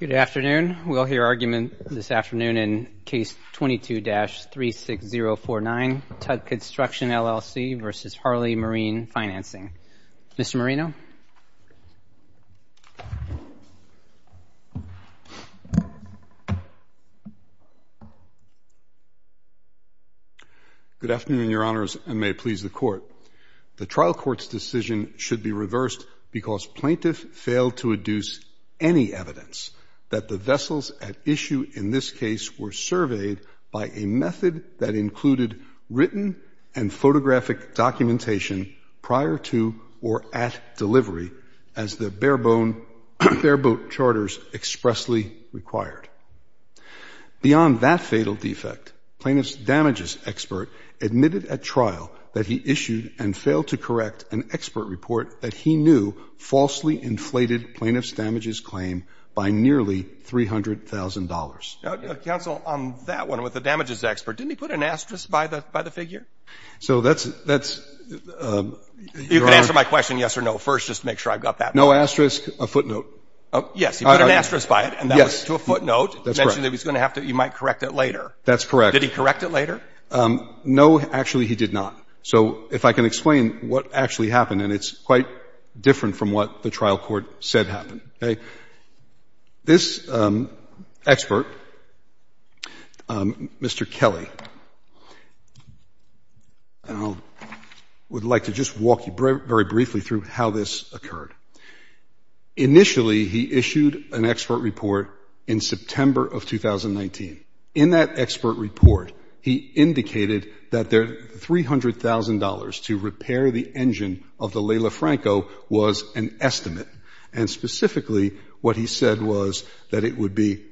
Good afternoon. We'll hear argument this afternoon in Case 22-36049, Tug Construction, LLC v. Harley Marine Financing. Mr. Marino? Good afternoon, Your Honors, and may it please the Court. The trial court's decision should be reversed because plaintiff failed to induce any evidence that the vessels at issue in this case were surveyed by a method that included written and photographic documentation prior to or at delivery, as the bare-boat charters expressly required. Beyond that fatal defect, plaintiff's damages expert admitted at trial that he issued and failed to correct an expert report that he knew falsely inflated plaintiff's damages claim by nearly $300,000. Counsel, on that one with the damages expert, didn't he put an asterisk by the figure? So that's... You can answer my question yes or no first, just to make sure I've got that. No asterisk, a footnote. Yes, he put an asterisk by it, and that was to a footnote. That's correct. He mentioned that he might correct it later. That's correct. Did he correct it later? No, actually he did not. So if I can explain what actually happened, and it's quite different from what the trial court said happened. This expert, Mr. Kelly, would like to just walk you very briefly through how this occurred. Initially, he issued an expert report in September of 2019. In that expert report, he indicated that the $300,000 to repair the engine of the Leila Franco was an estimate, and specifically what he said was that it would be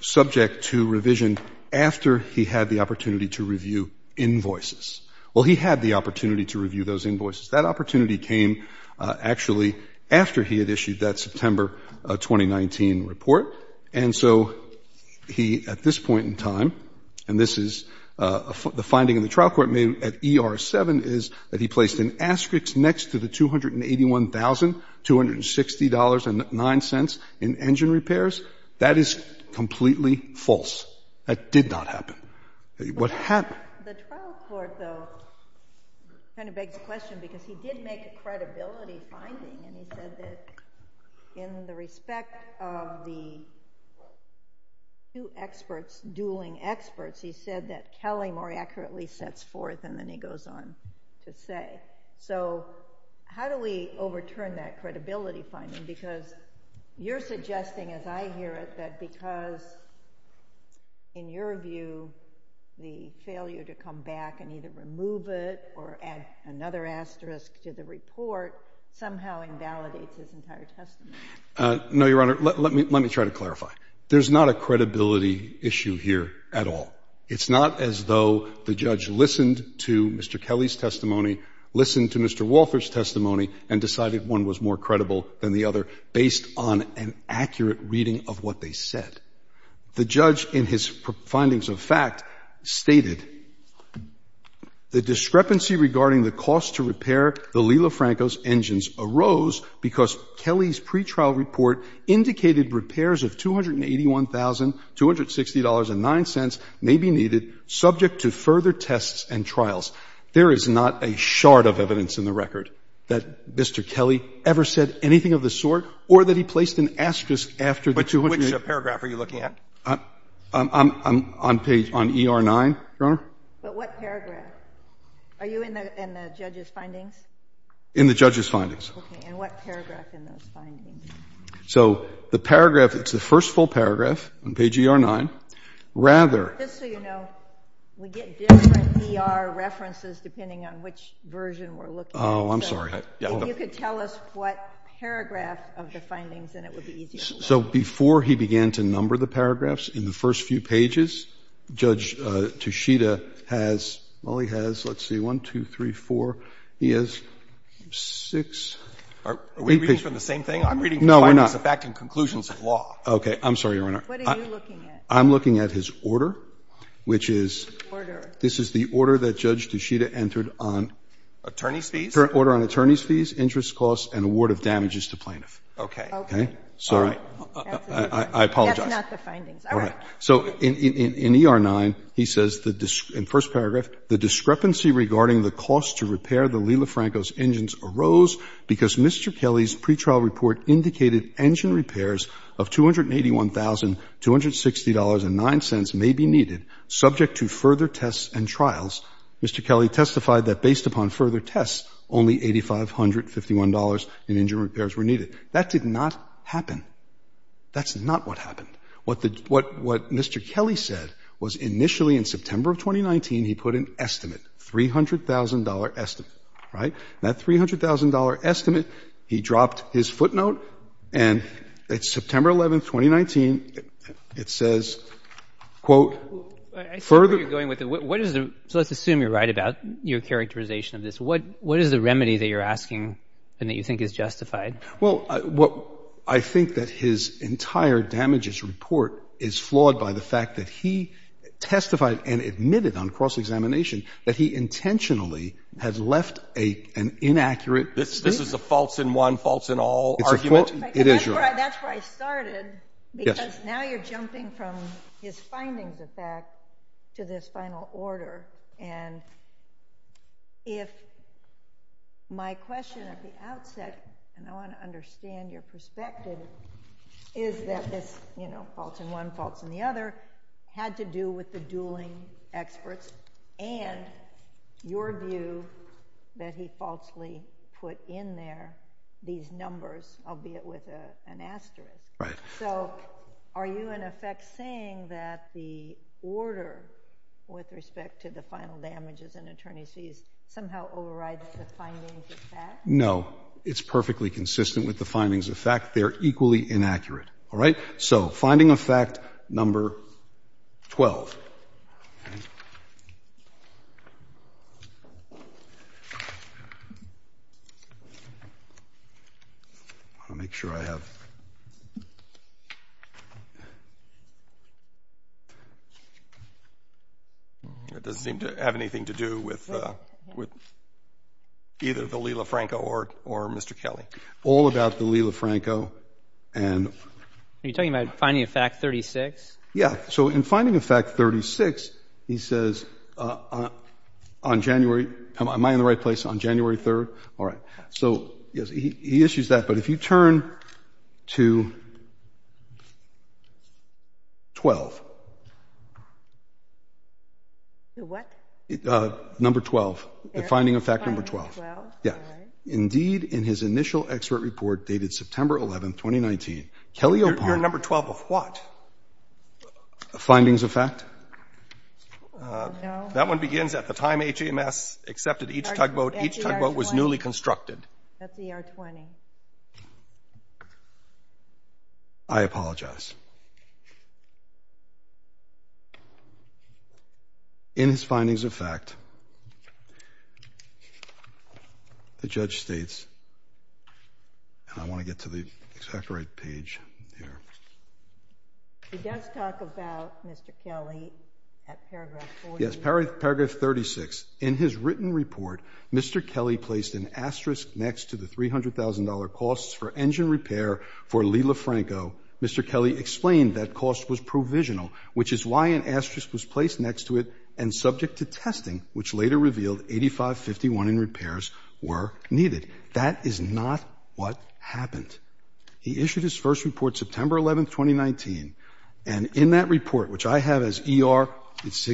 subject to revision after he had the opportunity to review invoices. Well, he had the opportunity to review those invoices. That opportunity came actually after he had issued that September 2019 report. And so he, at this point in time, and this is the finding in the trial court at ER-7, is that he placed an asterisk next to the $281,260.09 in engine repairs. That is completely false. That did not happen. What happened? The trial court, though, kind of begs the question because he did make a credibility finding, and he said that in the respect of the two experts dueling experts, he said that Kelly more accurately sets forth and then he goes on to say. So how do we overturn that credibility finding? Because you're suggesting, as I hear it, that because, in your view, the failure to come back and either remove it or add another asterisk to the report somehow invalidates his entire testimony. No, Your Honor. Let me try to clarify. There's not a credibility issue here at all. It's not as though the judge listened to Mr. Kelly's testimony, listened to Mr. Walther's testimony, and decided one was more credible than the other based on an accurate reading of what they said. The judge, in his findings of fact, stated, the discrepancy regarding the cost to repair the Lila Franco's engines arose because Kelly's pretrial report indicated repairs of $281,260.09 may be needed, subject to further tests and trials. There is not a shard of evidence in the record that Mr. Kelly ever said anything of the sort or that he placed an asterisk after the $281. Which paragraph are you looking at? I'm on page ER9, Your Honor. But what paragraph? Are you in the judge's findings? In the judge's findings. Okay. And what paragraph in those findings? So the paragraph, it's the first full paragraph on page ER9. Rather. Just so you know, we get different ER references depending on which version we're looking at. Oh, I'm sorry. If you could tell us what paragraph of the findings, then it would be easier. So before he began to number the paragraphs, in the first few pages, Judge Toshida has, well, he has, let's see, 1, 2, 3, 4, he has 6. Are we reading from the same thing? I'm reading from the findings of fact and conclusions of law. No, we're not. I'm sorry, Your Honor. What are you looking at? I'm looking at his order, which is, this is the order that Judge Toshida entered on. Attorney's fees? Order on attorney's fees, interest costs, and award of damages to plaintiffs. Okay. Okay. All right. I apologize. That's not the findings. All right. So in ER9, he says in the first paragraph, the discrepancy regarding the cost to repair the Lila Franco's engines arose because Mr. Kelly's pretrial report indicated engine repairs of $281,260.09 may be needed subject to further tests and trials. Mr. Kelly testified that based upon further tests, only $8,551.00 in engine repairs were needed. That did not happen. That's not what happened. What Mr. Kelly said was initially in September of 2019, he put an estimate, $300,000.00 estimate, right? That $300,000.00 estimate, he dropped his footnote, and it's September 11th, 2019. It says, quote, further... I see where you're going with it. What is the... So let's assume you're right about your characterization of this. What is the remedy that you're asking and that you think is justified? Well, I think that his entire damages report is flawed by the fact that he testified and admitted on cross-examination that he intentionally had left an inaccurate... This is a faults-in-one, faults-in-all argument? It is, Your Honor. That's where I started because now you're jumping from his findings of fact to this final order, and if my question at the outset, and I want to understand your perspective, is that this faults-in-one, faults-in-the-other had to do with the dueling experts and your view that he falsely put in there these numbers, albeit with an asterisk. Right. So are you, in effect, saying that the order with respect to the final damages an attorney sees somehow overrides the findings of fact? No. It's perfectly consistent with the findings of fact. They're equally inaccurate. All right? So finding of fact number 12. I want to make sure I have... It doesn't seem to have anything to do with either the Lila Franco or Mr. Kelly. All about the Lila Franco and... Are you talking about finding of fact 36? Yeah. So in finding of fact 36, he says, on January... Am I in the right place? On January 3rd? All right. So, yes, he issues that, but if you turn to 12. To what? Number 12. The finding of fact number 12. Number 12? Yeah. All right. Indeed, in his initial expert report dated September 11th, 2019, Kelly... Your number 12 of what? Findings of fact. No. That one begins at the time HMS accepted each tugboat. Each tugboat was newly constructed. That's ER 20. I apologize. In his findings of fact, the judge states, and I want to get to the exact right page here. He does talk about Mr. Kelly at paragraph 40. Yes, paragraph 36. In his written report, Mr. Kelly placed an asterisk next to the $300,000 costs for engine repair for Lila Franco. Mr. Kelly explained that cost was provisional, which is why an asterisk was placed next to it and subject to testing, which later revealed $85.51 in repairs were needed. That is not what happened. He issued his first report September 11th, 2019, and in that report, which I have as ER, page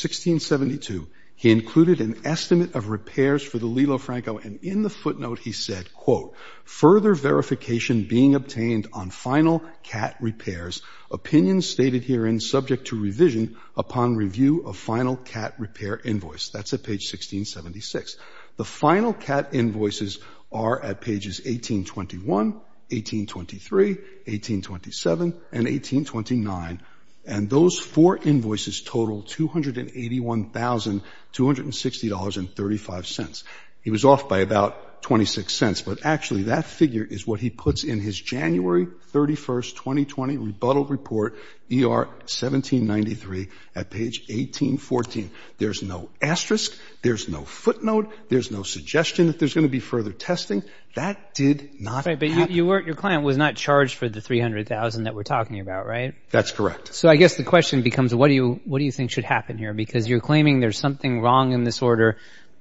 1672, he included an estimate of repairs for the Lila Franco, and in the footnote, he said, quote, further verification being obtained on final CAT repairs, opinions stated herein subject to revision upon review of final CAT repair invoice. That's at page 1676. The final CAT invoices are at pages 1821, 1823, 1827, and 1829, and those four invoices total $281,260.35. He was off by about $0.26, but actually that figure is what he puts in his January 31st, 2020 rebuttal report, ER 1793, at page 1814. There's no asterisk. There's no footnote. There's no suggestion that there's going to be further testing. That did not happen. Right, but your client was not charged for the $300,000 that we're talking about, right? That's correct. So I guess the question becomes, what do you think should happen here? Because you're claiming there's something wrong in this order,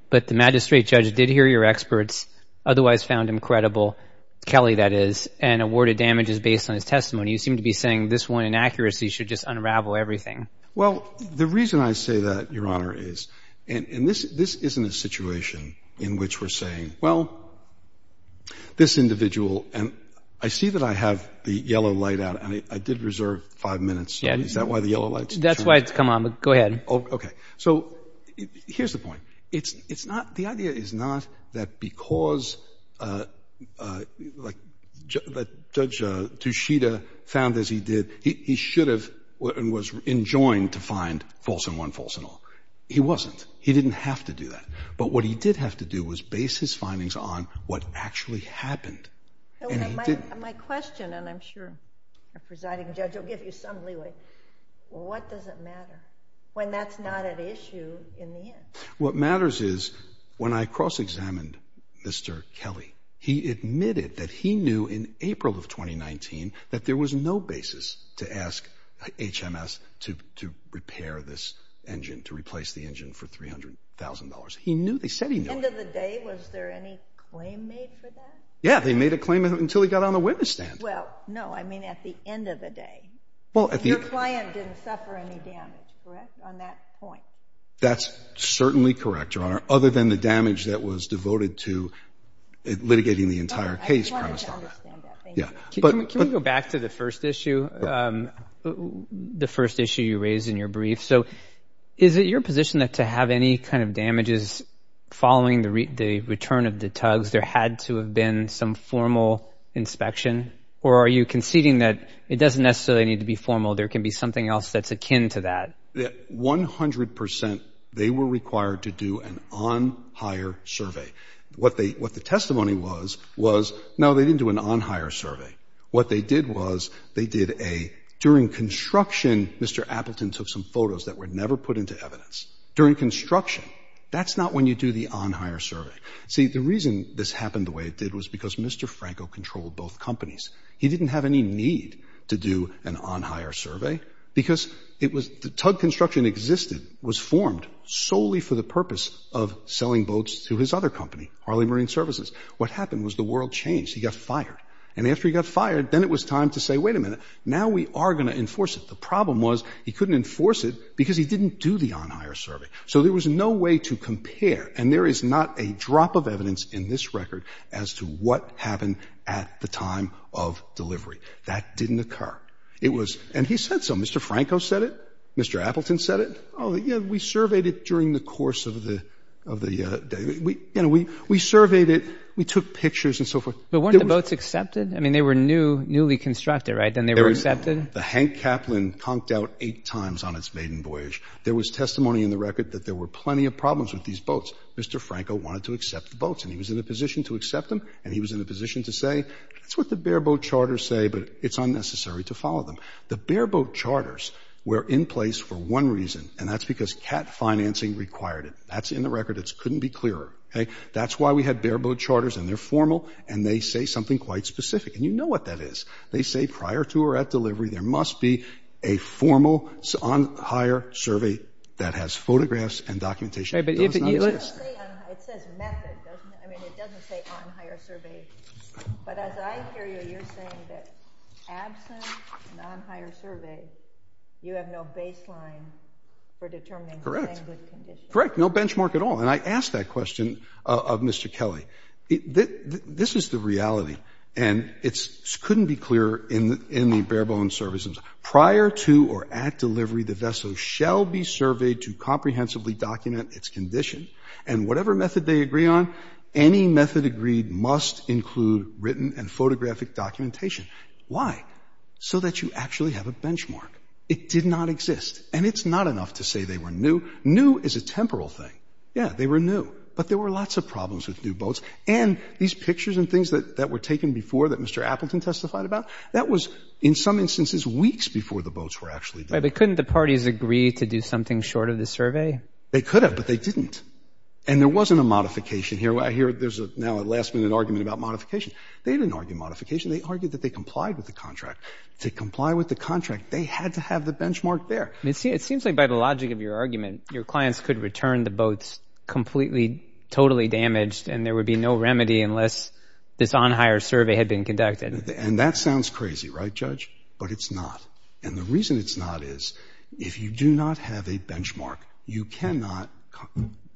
but the magistrate judge did hear your experts, otherwise found him credible, Kelly, that is, and awarded damages based on his testimony. You seem to be saying this one inaccuracy should just unravel everything. Well, the reason I say that, Your Honor, is, and this isn't a situation in which we're saying, well, this individual, and I see that I have the yellow light out, and I did reserve five minutes. Is that why the yellow light's on? That's why it's come on. Go ahead. Okay. So here's the point. It's not, the idea is not that because, like, Judge Tushita found as he did, he should have and was enjoined to find false and one false and all. He wasn't. He didn't have to do that. But what he did have to do was base his findings on what actually happened. My question, and I'm sure the presiding judge will give you some leeway. What does it matter when that's not an issue in the end? What matters is when I cross-examined Mr. Kelly, he admitted that he knew in April of 2019 that there was no basis to ask HMS to repair this engine, to replace the engine for $300,000. He knew. They said he knew. End of the day, was there any claim made for that? Yeah, they made a claim until he got on the witness stand. Well, no, I mean at the end of the day. Your client didn't suffer any damage, correct, on that point? That's certainly correct, Your Honor, other than the damage that was devoted to litigating the entire case. I wanted to understand that. Thank you. Can we go back to the first issue, the first issue you raised in your brief? So is it your position that to have any kind of damages following the return of the tugs, there had to have been some formal inspection? Or are you conceding that it doesn't necessarily need to be formal? There can be something else that's akin to that. One hundred percent, they were required to do an on-hire survey. What the testimony was, was no, they didn't do an on-hire survey. What they did was they did a during construction, Mr. Appleton took some photos that were never put into evidence. During construction, that's not when you do the on-hire survey. See, the reason this happened the way it did was because Mr. Franco controlled both companies. He didn't have any need to do an on-hire survey because it was the tug construction existed, was formed solely for the purpose of selling boats to his other company, Harley Marine Services. What happened was the world changed. He got fired. And after he got fired, then it was time to say, wait a minute, now we are going to enforce it. The problem was he couldn't enforce it because he didn't do the on-hire survey. So there was no way to compare. And there is not a drop of evidence in this record as to what happened at the time of delivery. That didn't occur. It was, and he said so, Mr. Franco said it. Mr. Appleton said it. Oh, yeah, we surveyed it during the course of the day. You know, we surveyed it. We took pictures and so forth. But weren't the boats accepted? I mean, they were newly constructed, right? Then they were accepted? The Hank Kaplan conked out eight times on its maiden voyage. There was testimony in the record that there were plenty of problems with these boats. Mr. Franco wanted to accept the boats. And he was in a position to accept them, and he was in a position to say, that's what the bareboat charters say, but it's unnecessary to follow them. The bareboat charters were in place for one reason, and that's because CAT financing required it. That's in the record. It couldn't be clearer. That's why we had bareboat charters, and they're formal, and they say something quite specific. And you know what that is. They say prior to or at delivery, there must be a formal on-hire survey that has photographs and documentation. It doesn't say on-hire. It says method, doesn't it? I mean, it doesn't say on-hire survey. But as I hear you, you're saying that absent an on-hire survey, you have no baseline for determining the language condition. Correct. No benchmark at all. And I ask that question of Mr. Kelly. This is the reality, and it couldn't be clearer in the barebone services. Prior to or at delivery, the vessel shall be surveyed to comprehensively determine its condition, and whatever method they agree on, any method agreed must include written and photographic documentation. Why? So that you actually have a benchmark. It did not exist, and it's not enough to say they were new. New is a temporal thing. Yeah, they were new, but there were lots of problems with new boats, and these pictures and things that were taken before that Mr. Appleton testified about, that was, in some instances, weeks before the boats were actually built. But couldn't the parties agree to do something short of the survey? They could have, but they didn't, and there wasn't a modification here. I hear there's now a last-minute argument about modification. They didn't argue modification. They argued that they complied with the contract. To comply with the contract, they had to have the benchmark there. It seems like by the logic of your argument, your clients could return the boats completely, totally damaged, and there would be no remedy unless this on-hire survey had been conducted. And that sounds crazy, right, Judge? But it's not, and the reason it's not is if you do not have a benchmark, you cannot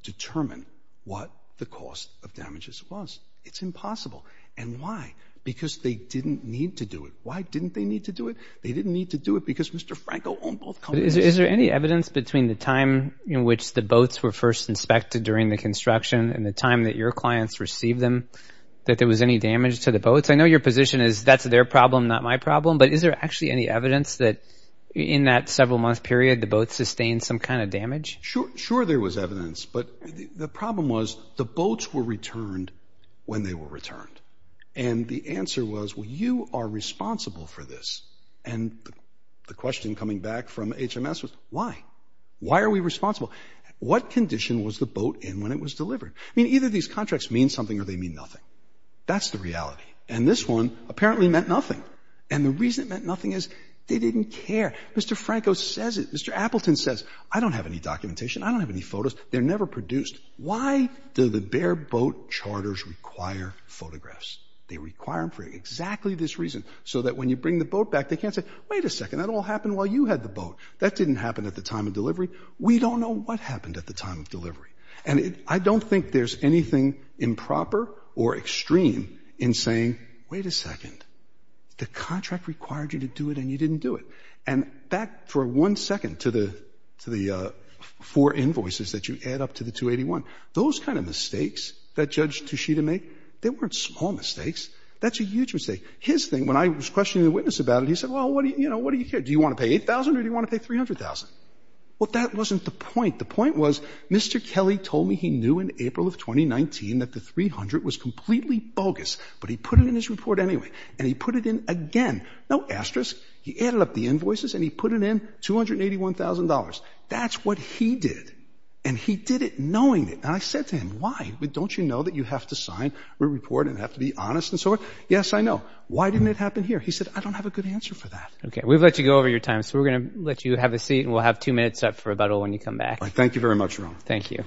determine what the cost of damages was. It's impossible. And why? Because they didn't need to do it. Why didn't they need to do it? They didn't need to do it because Mr. Franco owned both companies. Is there any evidence between the time in which the boats were first inspected during the construction and the time that your clients received them that there was any damage to the boats? I know your position is that's their problem, not my problem, but is there actually any evidence that in that several-month period the boats sustained some kind of damage? Sure there was evidence, but the problem was the boats were returned when they were returned. And the answer was, well, you are responsible for this. And the question coming back from HMS was, why? Why are we responsible? What condition was the boat in when it was delivered? I mean, either these contracts mean something or they mean nothing. That's the reality. And this one apparently meant nothing. And the reason it meant nothing is they didn't care. Mr. Franco says it. Mr. Appleton says, I don't have any documentation. I don't have any photos. They're never produced. Why do the bare boat charters require photographs? They require them for exactly this reason, so that when you bring the boat back they can't say, wait a second, that all happened while you had the boat. That didn't happen at the time of delivery. We don't know what happened at the time of delivery. And I don't think there's anything improper or extreme in saying, wait a second, the contract required you to do it and you didn't do it. And that, for one second, to the four invoices that you add up to the 281, those kind of mistakes that Judge Tushita made, they weren't small mistakes. That's a huge mistake. His thing, when I was questioning the witness about it, he said, well, what do you care? Do you want to pay 8,000 or do you want to pay 300,000? Well, that wasn't the point. The point was Mr. Kelly told me he knew in April of 2019 that the 300 was completely bogus, but he put it in his report anyway. And he put it in again. No asterisk. He added up the invoices and he put it in, $281,000. That's what he did. And he did it knowing it. And I said to him, why? Don't you know that you have to sign a report and have to be honest and so on? Yes, I know. Why didn't it happen here? He said, I don't have a good answer for that. Okay, we've let you go over your time, so we're going to let you have a seat and we'll have two minutes up for rebuttal when you come back. Thank you very much, Ron. Thank you.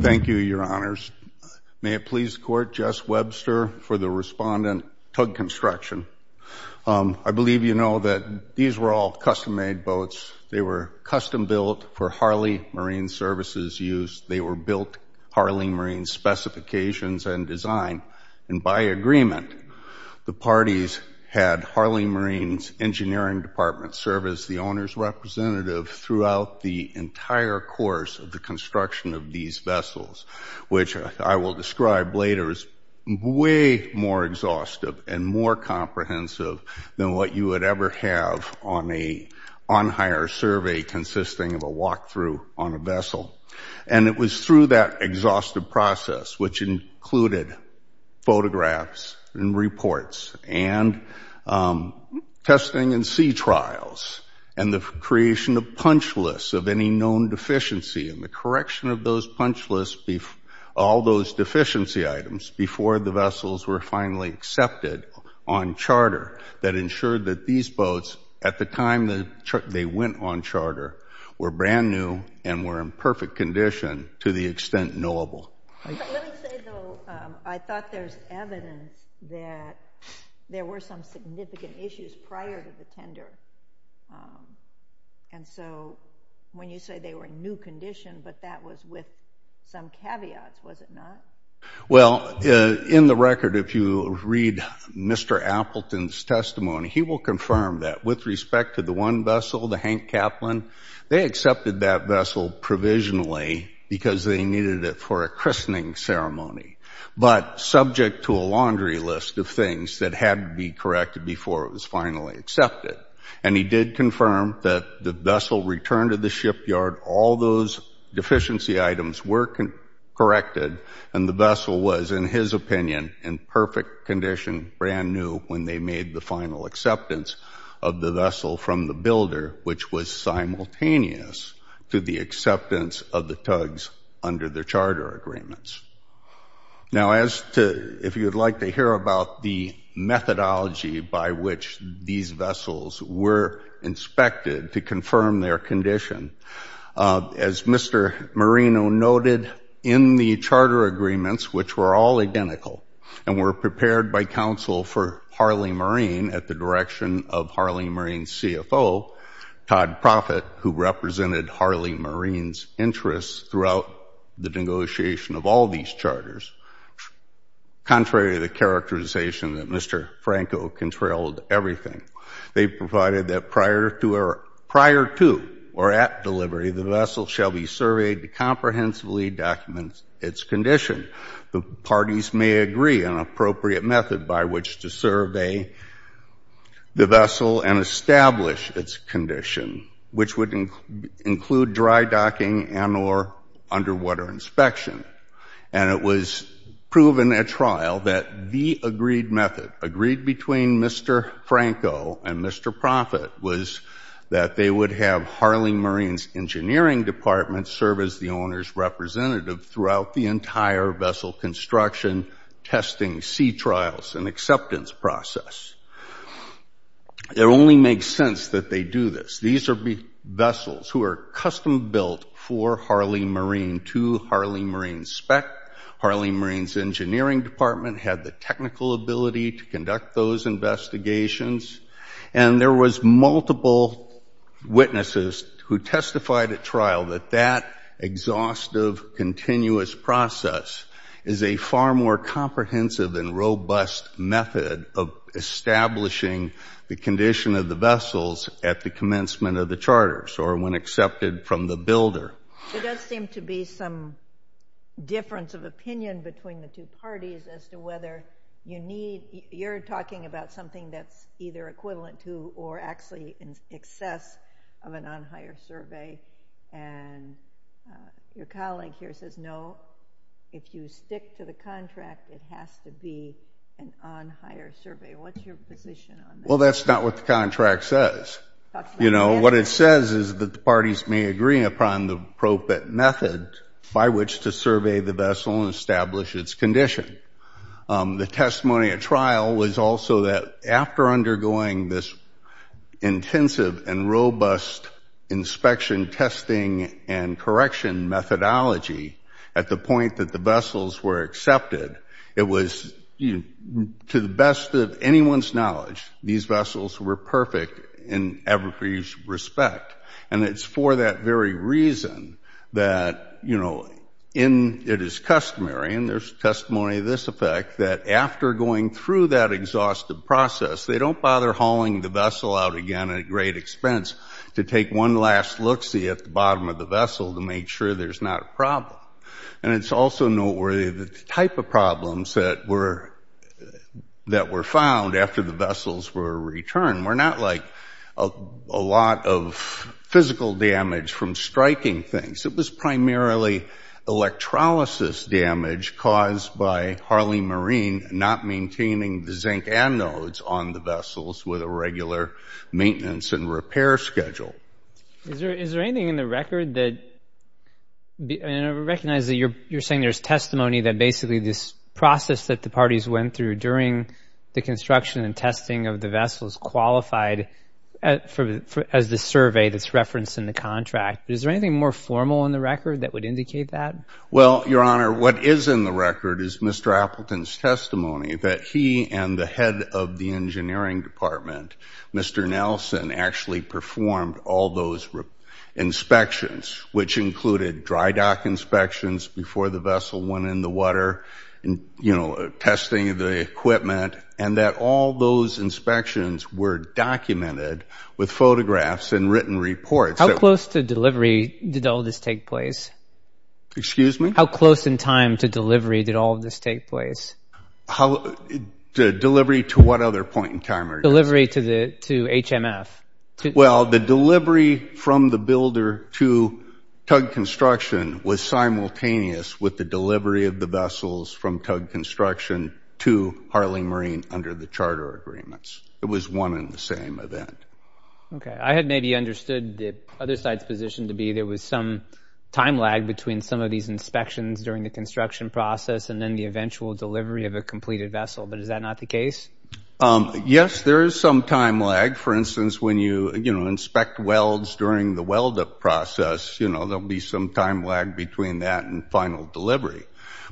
Thank you, Your Honors. May it please the Court, Jess Webster for the respondent, tug construction. I believe you know that these were all custom-made boats. They were custom-built for Harley Marine Services use. They were built Harley Marine specifications and design. And by agreement, the parties had Harley Marine's engineering department serve as the owner's representative throughout the entire course of the construction of these vessels, which I will describe later as way more exhaustive and more comprehensive than what you would ever have on a on-hire survey consisting of a walkthrough on a vessel. And it was through that exhaustive process, which included photographs and reports and testing and sea trials and the creation of punch lists of any known deficiency and the correction of those punch lists, all those deficiency items, before the vessels were finally accepted on charter that ensured that these boats, at the time they went on charter, were brand new and were in perfect condition to the extent knowable. Let me say, though, I thought there's evidence that there were some significant issues prior to the tender. And so when you say they were in new condition, but that was with some caveats, was it not? Well, in the record, if you read Mr. Appleton's testimony, he will confirm that with respect to the one vessel, the Hank Kaplan, they accepted that vessel provisionally because they needed it for a christening ceremony, but subject to a laundry list of things that had to be corrected before it was finally accepted. And he did confirm that the vessel returned to the shipyard, all those deficiency items were corrected, and the vessel was, in his opinion, in perfect condition, brand new, when they made the final acceptance of the vessel from the builder, which was simultaneous to the acceptance of the tugs under the charter agreements. Now, if you would like to hear about the methodology by which these vessels were inspected to confirm their condition, as Mr. Marino noted, in the charter agreements, which were all identical, and were prepared by counsel for Harley Marine at the direction of Harley Marine's CFO, Todd Proffitt, who represented Harley Marine's interests throughout the negotiation of all these charters, contrary to the characterization that Mr. Franco controlled everything, they provided that prior to or at delivery, the vessel shall be surveyed to comprehensively document its condition. The parties may agree an appropriate method by which to survey the vessel and establish its condition, which would include dry docking and or underwater inspection. And it was proven at trial that the agreed method, agreed between Mr. Franco and Mr. Proffitt, was that they would have Harley Marine's engineering department serve as the owner's representative throughout the entire vessel construction, testing, sea trials, and acceptance process. It only makes sense that they do this. These are vessels who are custom-built for Harley Marine to Harley Marine spec. Harley Marine's engineering department had the technical ability to conduct those investigations, and there was multiple witnesses who testified at trial that that exhaustive, continuous process is a far more comprehensive and robust method of establishing the condition of the vessels at the commencement of the charters or when accepted from the builder. There does seem to be some difference of opinion between the two parties as to whether you need, you're talking about something that's either equivalent to or actually in excess of an on-hire survey, and your colleague here says, no, if you stick to the contract, it has to be an on-hire survey. What's your position on that? Well, that's not what the contract says. You know, what it says is that the parties may agree upon the appropriate method by which to survey the vessel and establish its condition. The testimony at trial was also that after undergoing this intensive and robust inspection, testing, and correction methodology at the point that the vessels were accepted, it was, to the best of anyone's knowledge, these vessels were perfect in every respect, and it's for that very reason that, you know, it is customary, and there's testimony of this effect, that after going through that exhaustive process, they don't bother hauling the vessel out again at great expense to take one last look-see at the bottom of the vessel to make sure there's not a problem. And it's also noteworthy the type of problems that were found after the vessels were returned. We're not like a lot of physical damage from striking things. It was primarily electrolysis damage caused by Harley Marine not maintaining the zinc anodes on the vessels with a regular maintenance and repair schedule. Is there anything in the record that, and I recognize that you're saying there's testimony that basically this process that the parties went through during the construction and testing of the vessels qualified as the survey that's referenced in the contract, but is there anything more formal in the record that would indicate that? Well, Your Honor, what is in the record is Mr. Appleton's testimony that he and the head of the engineering department, Mr. Nelson, actually performed all those inspections, which included dry dock inspections before the vessel went in the water, you know, testing the equipment, and that all those inspections were documented with photographs and written reports. How close to delivery did all this take place? Excuse me? How close in time to delivery did all of this take place? Delivery to what other point in time, Your Honor? Delivery to HMF. Well, the delivery from the builder to Tug Construction was simultaneous with the delivery of the vessels from Tug Construction to Harley Marine under the charter agreements. It was one and the same event. Okay. I had maybe understood the other side's position to be there was some time lag between some of these inspections during the construction process and then the eventual delivery of a completed vessel, but is that not the case? Yes, there is some time lag. For instance, when you inspect welds during the weld-up process, you know, there will be some time lag between that and final delivery.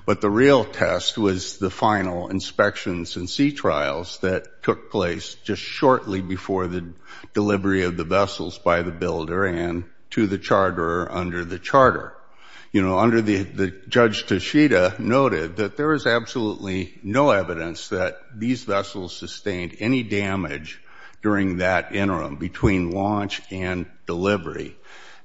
But the real test was the final inspections and sea trials that took place just shortly before the delivery of the vessels by the builder and to the charter under the charter. You know, under the Judge Toshida noted that there is absolutely no evidence that these vessels sustained any damage during that interim between launch and delivery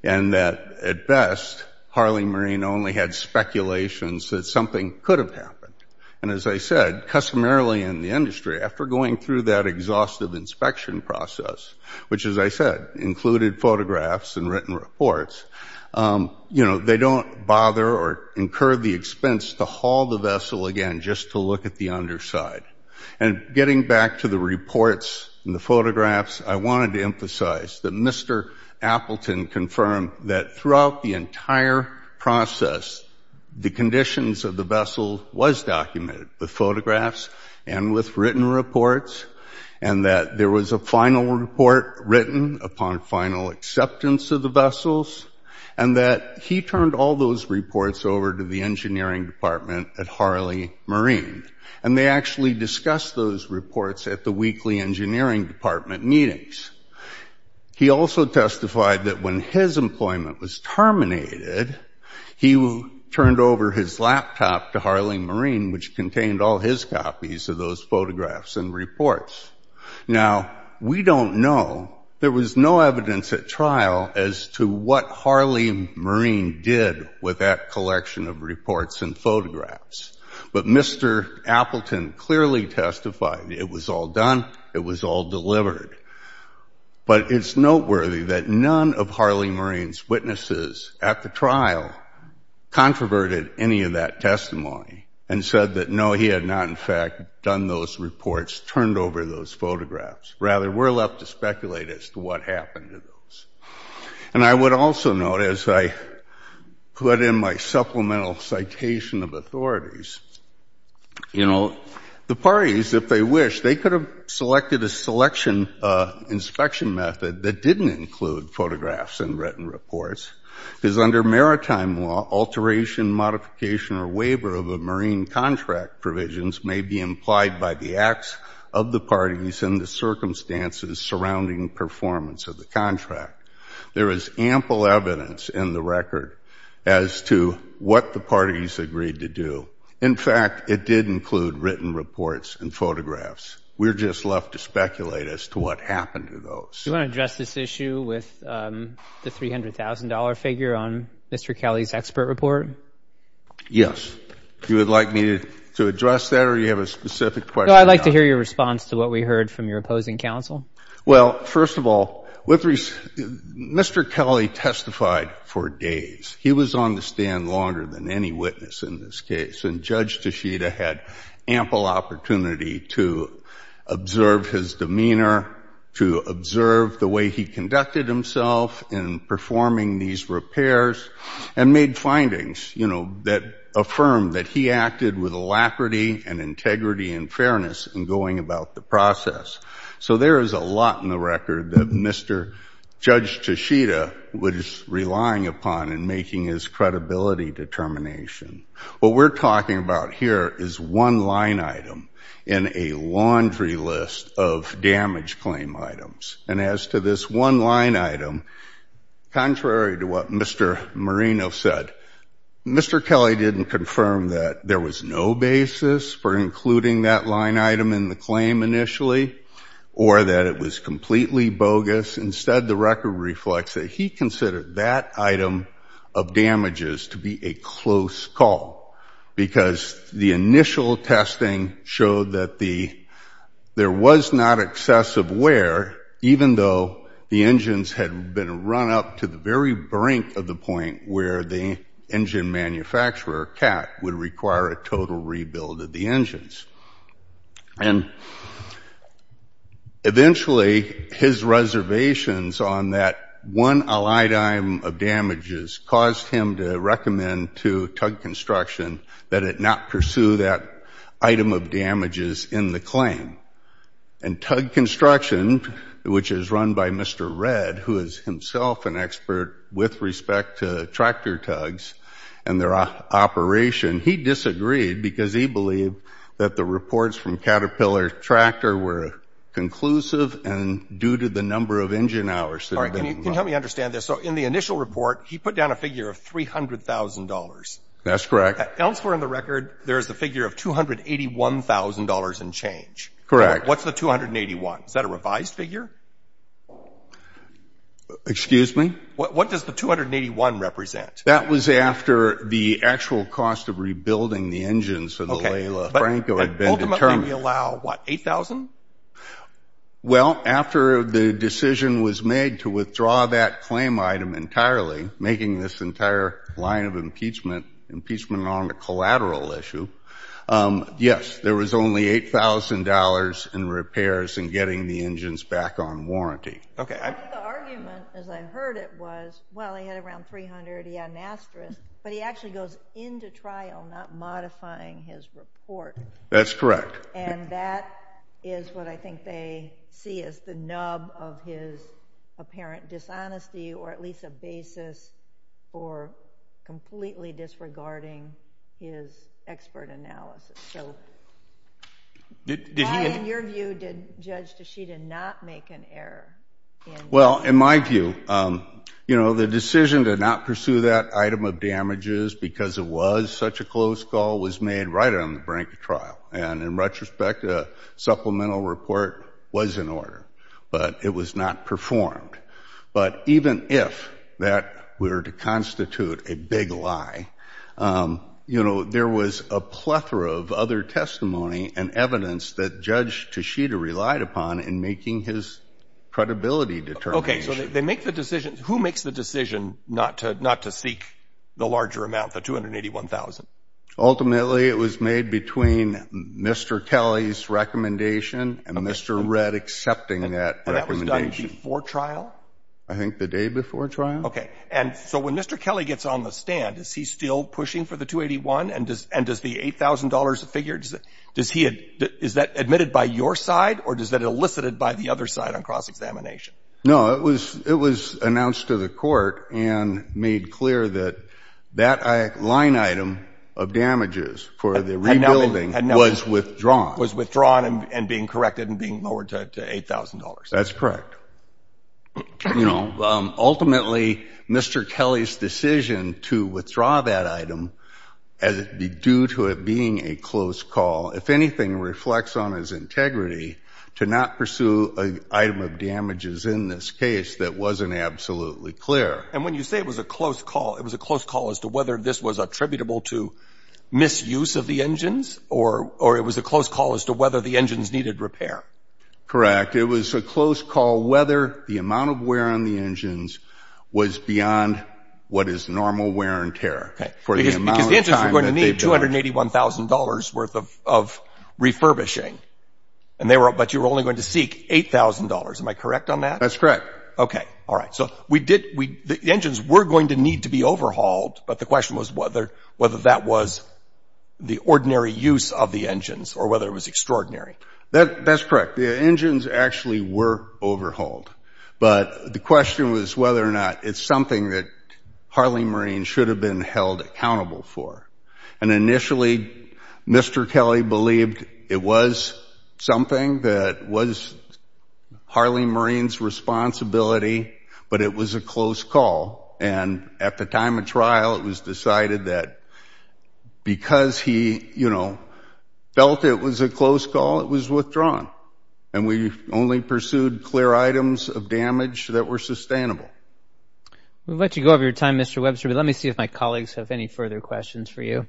and that, at best, Harley Marine only had speculations that something could have happened. And as I said, customarily in the industry, after going through that exhaustive inspection process, which, as I said, included photographs and written reports, you know, they don't bother or incur the expense to haul the vessel again just to look at the underside. And getting back to the reports and the photographs, I wanted to emphasize that Mr. Appleton confirmed that throughout the entire process, the conditions of the vessel was documented with photographs and with written reports and that there was a final report written upon final acceptance of the vessels and that he turned all those reports over to the engineering department at Harley Marine. And they actually discussed those reports at the weekly engineering department meetings. He also testified that when his employment was terminated, he turned over his laptop to Harley Marine, which contained all his copies of those photographs and reports. Now, we don't know. There was no evidence at trial as to what Harley Marine did with that collection of reports and photographs. But Mr. Appleton clearly testified it was all done, it was all delivered. But it's noteworthy that none of Harley Marine's witnesses at the trial controverted any of that testimony and said that, no, he had not in fact done those reports, turned over those photographs. Rather, we're left to speculate as to what happened to those. And I would also note, as I put in my supplemental citation of authorities, you know, the parties, if they wish, they could have selected a selection inspection method that didn't include photographs and written reports because under maritime law, alteration, modification or waiver of a marine contract provisions may be implied by the acts of the parties in the circumstances surrounding performance of the contract. There is ample evidence in the record as to what the parties agreed to do. In fact, it did include written reports and photographs. We're just left to speculate as to what happened to those. Do you want to address this issue with the $300,000 figure on Mr. Kelly's expert report? Yes. Do you would like me to address that or do you have a specific question? No, I'd like to hear your response to what we heard from your opposing counsel. Well, first of all, Mr. Kelly testified for days. He was on the stand longer than any witness in this case, and Judge Tashita had ample opportunity to observe his demeanor, to observe the way he conducted himself in performing these repairs and made findings that affirmed that he acted with alacrity and integrity and fairness in going about the process. So there is a lot in the record that Mr. Judge Tashita was relying upon in making his credibility determination. What we're talking about here is one line item in a laundry list of damage claim items. And as to this one line item, contrary to what Mr. Marino said, Mr. Kelly didn't confirm that there was no basis for including that line item in the claim initially or that it was completely bogus. Instead, the record reflects that he considered that item of damages to be a close call because the initial testing showed that there was not excessive wear, even though the engines had been run up to the very brink of the point where the engine manufacturer, CAT, would require a total rebuild of the engines. And eventually, his reservations on that one allied item of damages caused him to recommend to Tug Construction that it not pursue that item of damages in the claim. And Tug Construction, which is run by Mr. Redd, who is himself an expert with respect to tractor tugs and their operation, he disagreed because he believed that the reports from Caterpillar Tractor were conclusive and due to the number of engine hours that had been run. Can you help me understand this? So in the initial report, he put down a figure of $300,000. That's correct. Elsewhere in the record, there is a figure of $281,000 and change. Correct. What's the $281,000? Is that a revised figure? Excuse me? What does the $281,000 represent? That was after the actual cost of rebuilding the engines for the Laila Franco had been determined. But ultimately, we allow, what, $8,000? Well, after the decision was made to withdraw that claim item entirely, making this entire line of impeachment on a collateral issue, yes, there was only $8,000 in repairs and getting the engines back on warranty. Okay. The argument, as I heard it, was, well, he had around $300,000, he had an asterisk, but he actually goes into trial not modifying his report. That's correct. And that is what I think they see as the nub of his apparent dishonesty or at least a basis for completely disregarding his expert analysis. So why, in your view, did Judge Tshida not make an error? Well, in my view, you know, the decision to not pursue that item of damages because it was such a close call was made right on the brink of trial. And in retrospect, a supplemental report was in order, but it was not performed. But even if that were to constitute a big lie, you know, there was a plethora of other testimony and evidence that Judge Tshida relied upon in making his credibility determination. Okay. So they make the decision. Who makes the decision not to seek the larger amount, the $281,000? Ultimately, it was made between Mr. Kelly's recommendation and Mr. Red accepting that recommendation. And that was done before trial? I think the day before trial. Okay. And so when Mr. Kelly gets on the stand, is he still pushing for the $281,000? And does the $8,000 figure, does he admit it by your side or is that elicited by the other side on cross-examination? No. It was announced to the court and made clear that that line item of damages for the rebuilding was withdrawn. Was withdrawn and being corrected and being lowered to $8,000. That's correct. You know, ultimately, Mr. Kelly's decision to withdraw that item due to it being a close call, if anything, reflects on his integrity to not pursue an item of damages in this case that wasn't absolutely clear. And when you say it was a close call, it was a close call as to whether this was attributable to misuse of the engines or it was a close call as to whether the engines needed repair? Correct. It was a close call whether the amount of wear on the engines was beyond what is normal wear and tear. Because the engines were going to need $281,000 worth of refurbishing but you were only going to seek $8,000. Am I correct on that? That's correct. Okay. All right. So the engines were going to need to be overhauled, but the question was whether that was the ordinary use of the engines or whether it was extraordinary. That's correct. The engines actually were overhauled, but the question was whether or not it's something that Harley Marine should have been held accountable for. And initially, Mr. Kelly believed it was something that was Harley Marine's responsibility, but it was a close call. And at the time of trial, it was decided that because he, you know, felt it was a close call, it was withdrawn. And we only pursued clear items of damage that were sustainable. We'll let you go over your time, Mr. Webster, but let me see if my colleagues have any further questions for you.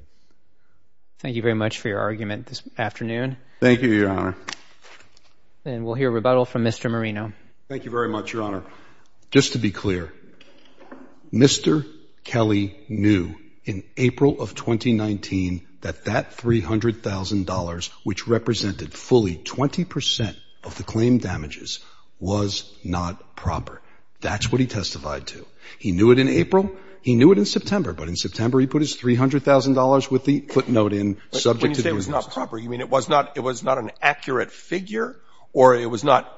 Thank you very much for your argument this afternoon. Thank you, Your Honor. And we'll hear rebuttal from Mr. Marino. Thank you very much, Your Honor. Just to be clear, Mr. Kelly knew in April of 2019 that that $300,000, which represented fully 20% of the claim damages, was not proper. That's what he testified to. He knew it in April. He knew it in September, but in September, he put his $300,000 with the footnote in subject to the rules. When you say it was not proper, you mean it was not an accurate figure, or it was not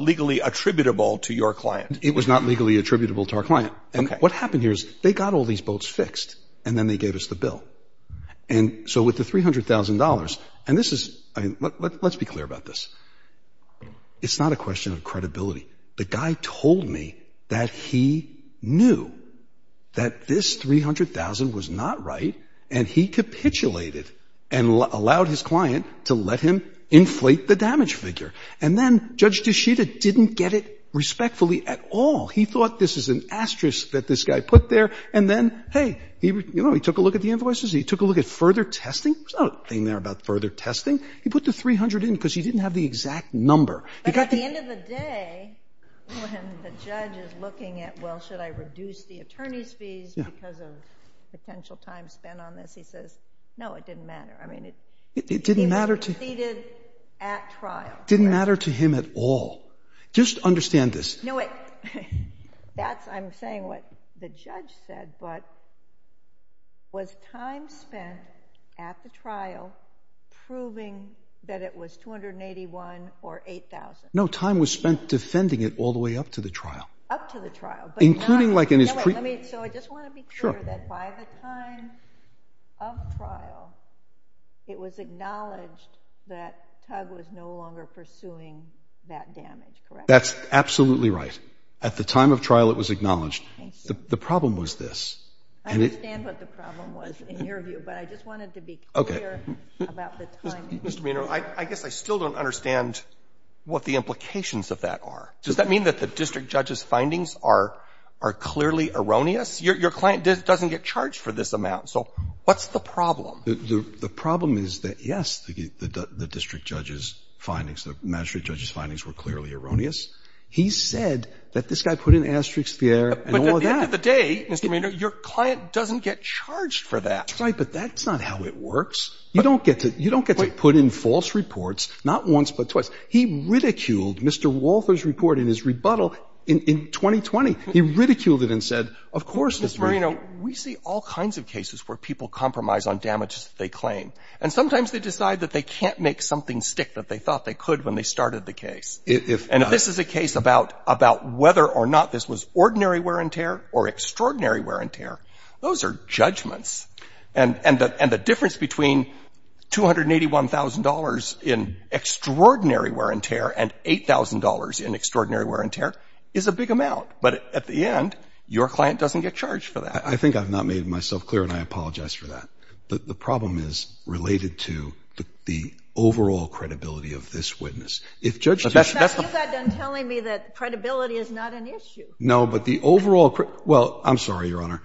legally attributable to your client? It was not legally attributable to our client. And what happened here is they got all these boats fixed, and then they gave us the bill. And so with the $300,000, and this is, I mean, let's be clear about this. It's not a question of credibility. The guy told me that he knew that this $300,000 was not right, and he capitulated and allowed his client to let him inflate the damage figure. And then Judge D'Shida didn't get it respectfully at all. He thought this is an asterisk that this guy put there, and then, hey, you know, he took a look at the invoices. He took a look at further testing. There's nothing there about further testing. He put the $300,000 in because he didn't have the exact number. But at the end of the day, when the judge is looking at, well, should I reduce the attorney's fees because of potential time spent on this, he says, no, it didn't matter. I mean, he succeeded at trial. It didn't matter to him at all. Just understand this. No, wait. I'm saying what the judge said, but was time spent at the trial proving that it was $281,000 or $8,000? No, time was spent defending it all the way up to the trial. Up to the trial. Including like in his pre- So I just want to be clear that by the time of trial, it was acknowledged that Tug was no longer pursuing that damage, correct? That's absolutely right. At the time of trial, it was acknowledged. The problem was this. I understand what the problem was in your view, but I just wanted to be clear about the time. Mr. Maynard, I guess I still don't understand what the implications of that are. Does that mean that the district judge's findings are clearly erroneous? Your client doesn't get charged for this amount, so what's the problem? The problem is that, yes, the district judge's findings, the magistrate judge's findings were clearly erroneous. He said that this guy put in asterisks there and all of that. But at the end of the day, Mr. Maynard, your client doesn't get charged for that. That's right, but that's not how it works. You don't get to put in false reports, not once but twice. He ridiculed Mr. Walther's report in his rebuttal in 2020. He ridiculed it and said, of course this was- Ms. Marino, we see all kinds of cases where people compromise on damages that they claim. And sometimes they decide that they can't make something stick that they thought they could when they started the case. And if this is a case about whether or not this was ordinary wear and tear or extraordinary wear and tear, those are judgments, and the difference between $281,000 in extraordinary wear and tear and $8,000 in extraordinary wear and tear is a big amount. But at the end, your client doesn't get charged for that. I think I've not made myself clear, and I apologize for that. The problem is related to the overall credibility of this witness. If judges- In fact, you got done telling me that credibility is not an issue. No, but the overall- Well, I'm sorry, Your Honor.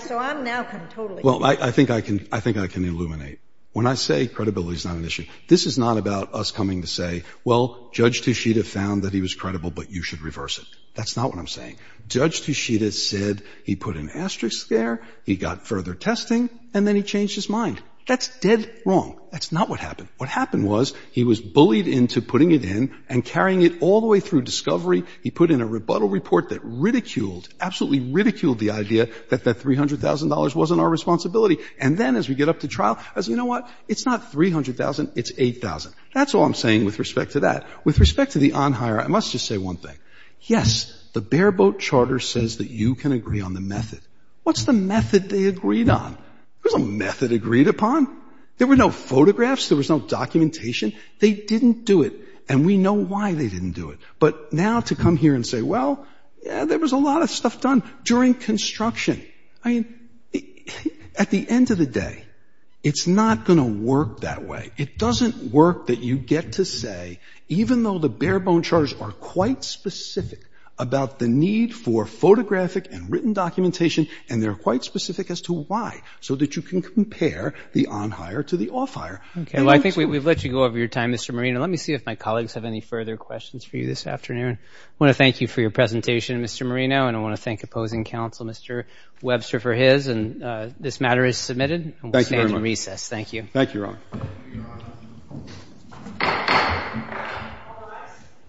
So I'm now totally- Well, I think I can illuminate. When I say credibility is not an issue, this is not about us coming to say, well, Judge Tushita found that he was credible, but you should reverse it. That's not what I'm saying. Judge Tushita said he put an asterisk there, he got further testing, and then he changed his mind. That's dead wrong. That's not what happened. What happened was he was bullied into putting it in and carrying it all the way through discovery. He put in a rebuttal report that ridiculed, absolutely ridiculed the idea that that $300,000 wasn't our responsibility. And then as we get up to trial, I say, you know what, it's not $300,000, it's $8,000. That's all I'm saying with respect to that. With respect to the on-hire, I must just say one thing. Yes, the bare-boat charter says that you can agree on the method. What's the method they agreed on? There's no method agreed upon. There were no photographs. There was no documentation. They didn't do it. And we know why they didn't do it. But now to come here and say, well, there was a lot of stuff done during construction. I mean, at the end of the day, it's not going to work that way. It doesn't work that you get to say, even though the bare-bone charters are quite specific about the need for photographic and written documentation, and they're quite specific as to why, so that you can compare the on-hire to the off-hire. Okay. Well, I think we've let you go over your time, Mr. Marino. Let me see if my colleagues have any further questions for you this afternoon. I want to thank you for your presentation, Mr. Marino, and I want to thank opposing counsel, Mr. Webster, for his. And this matter is submitted. Thank you very much. Thank you. Thank you, Your Honor.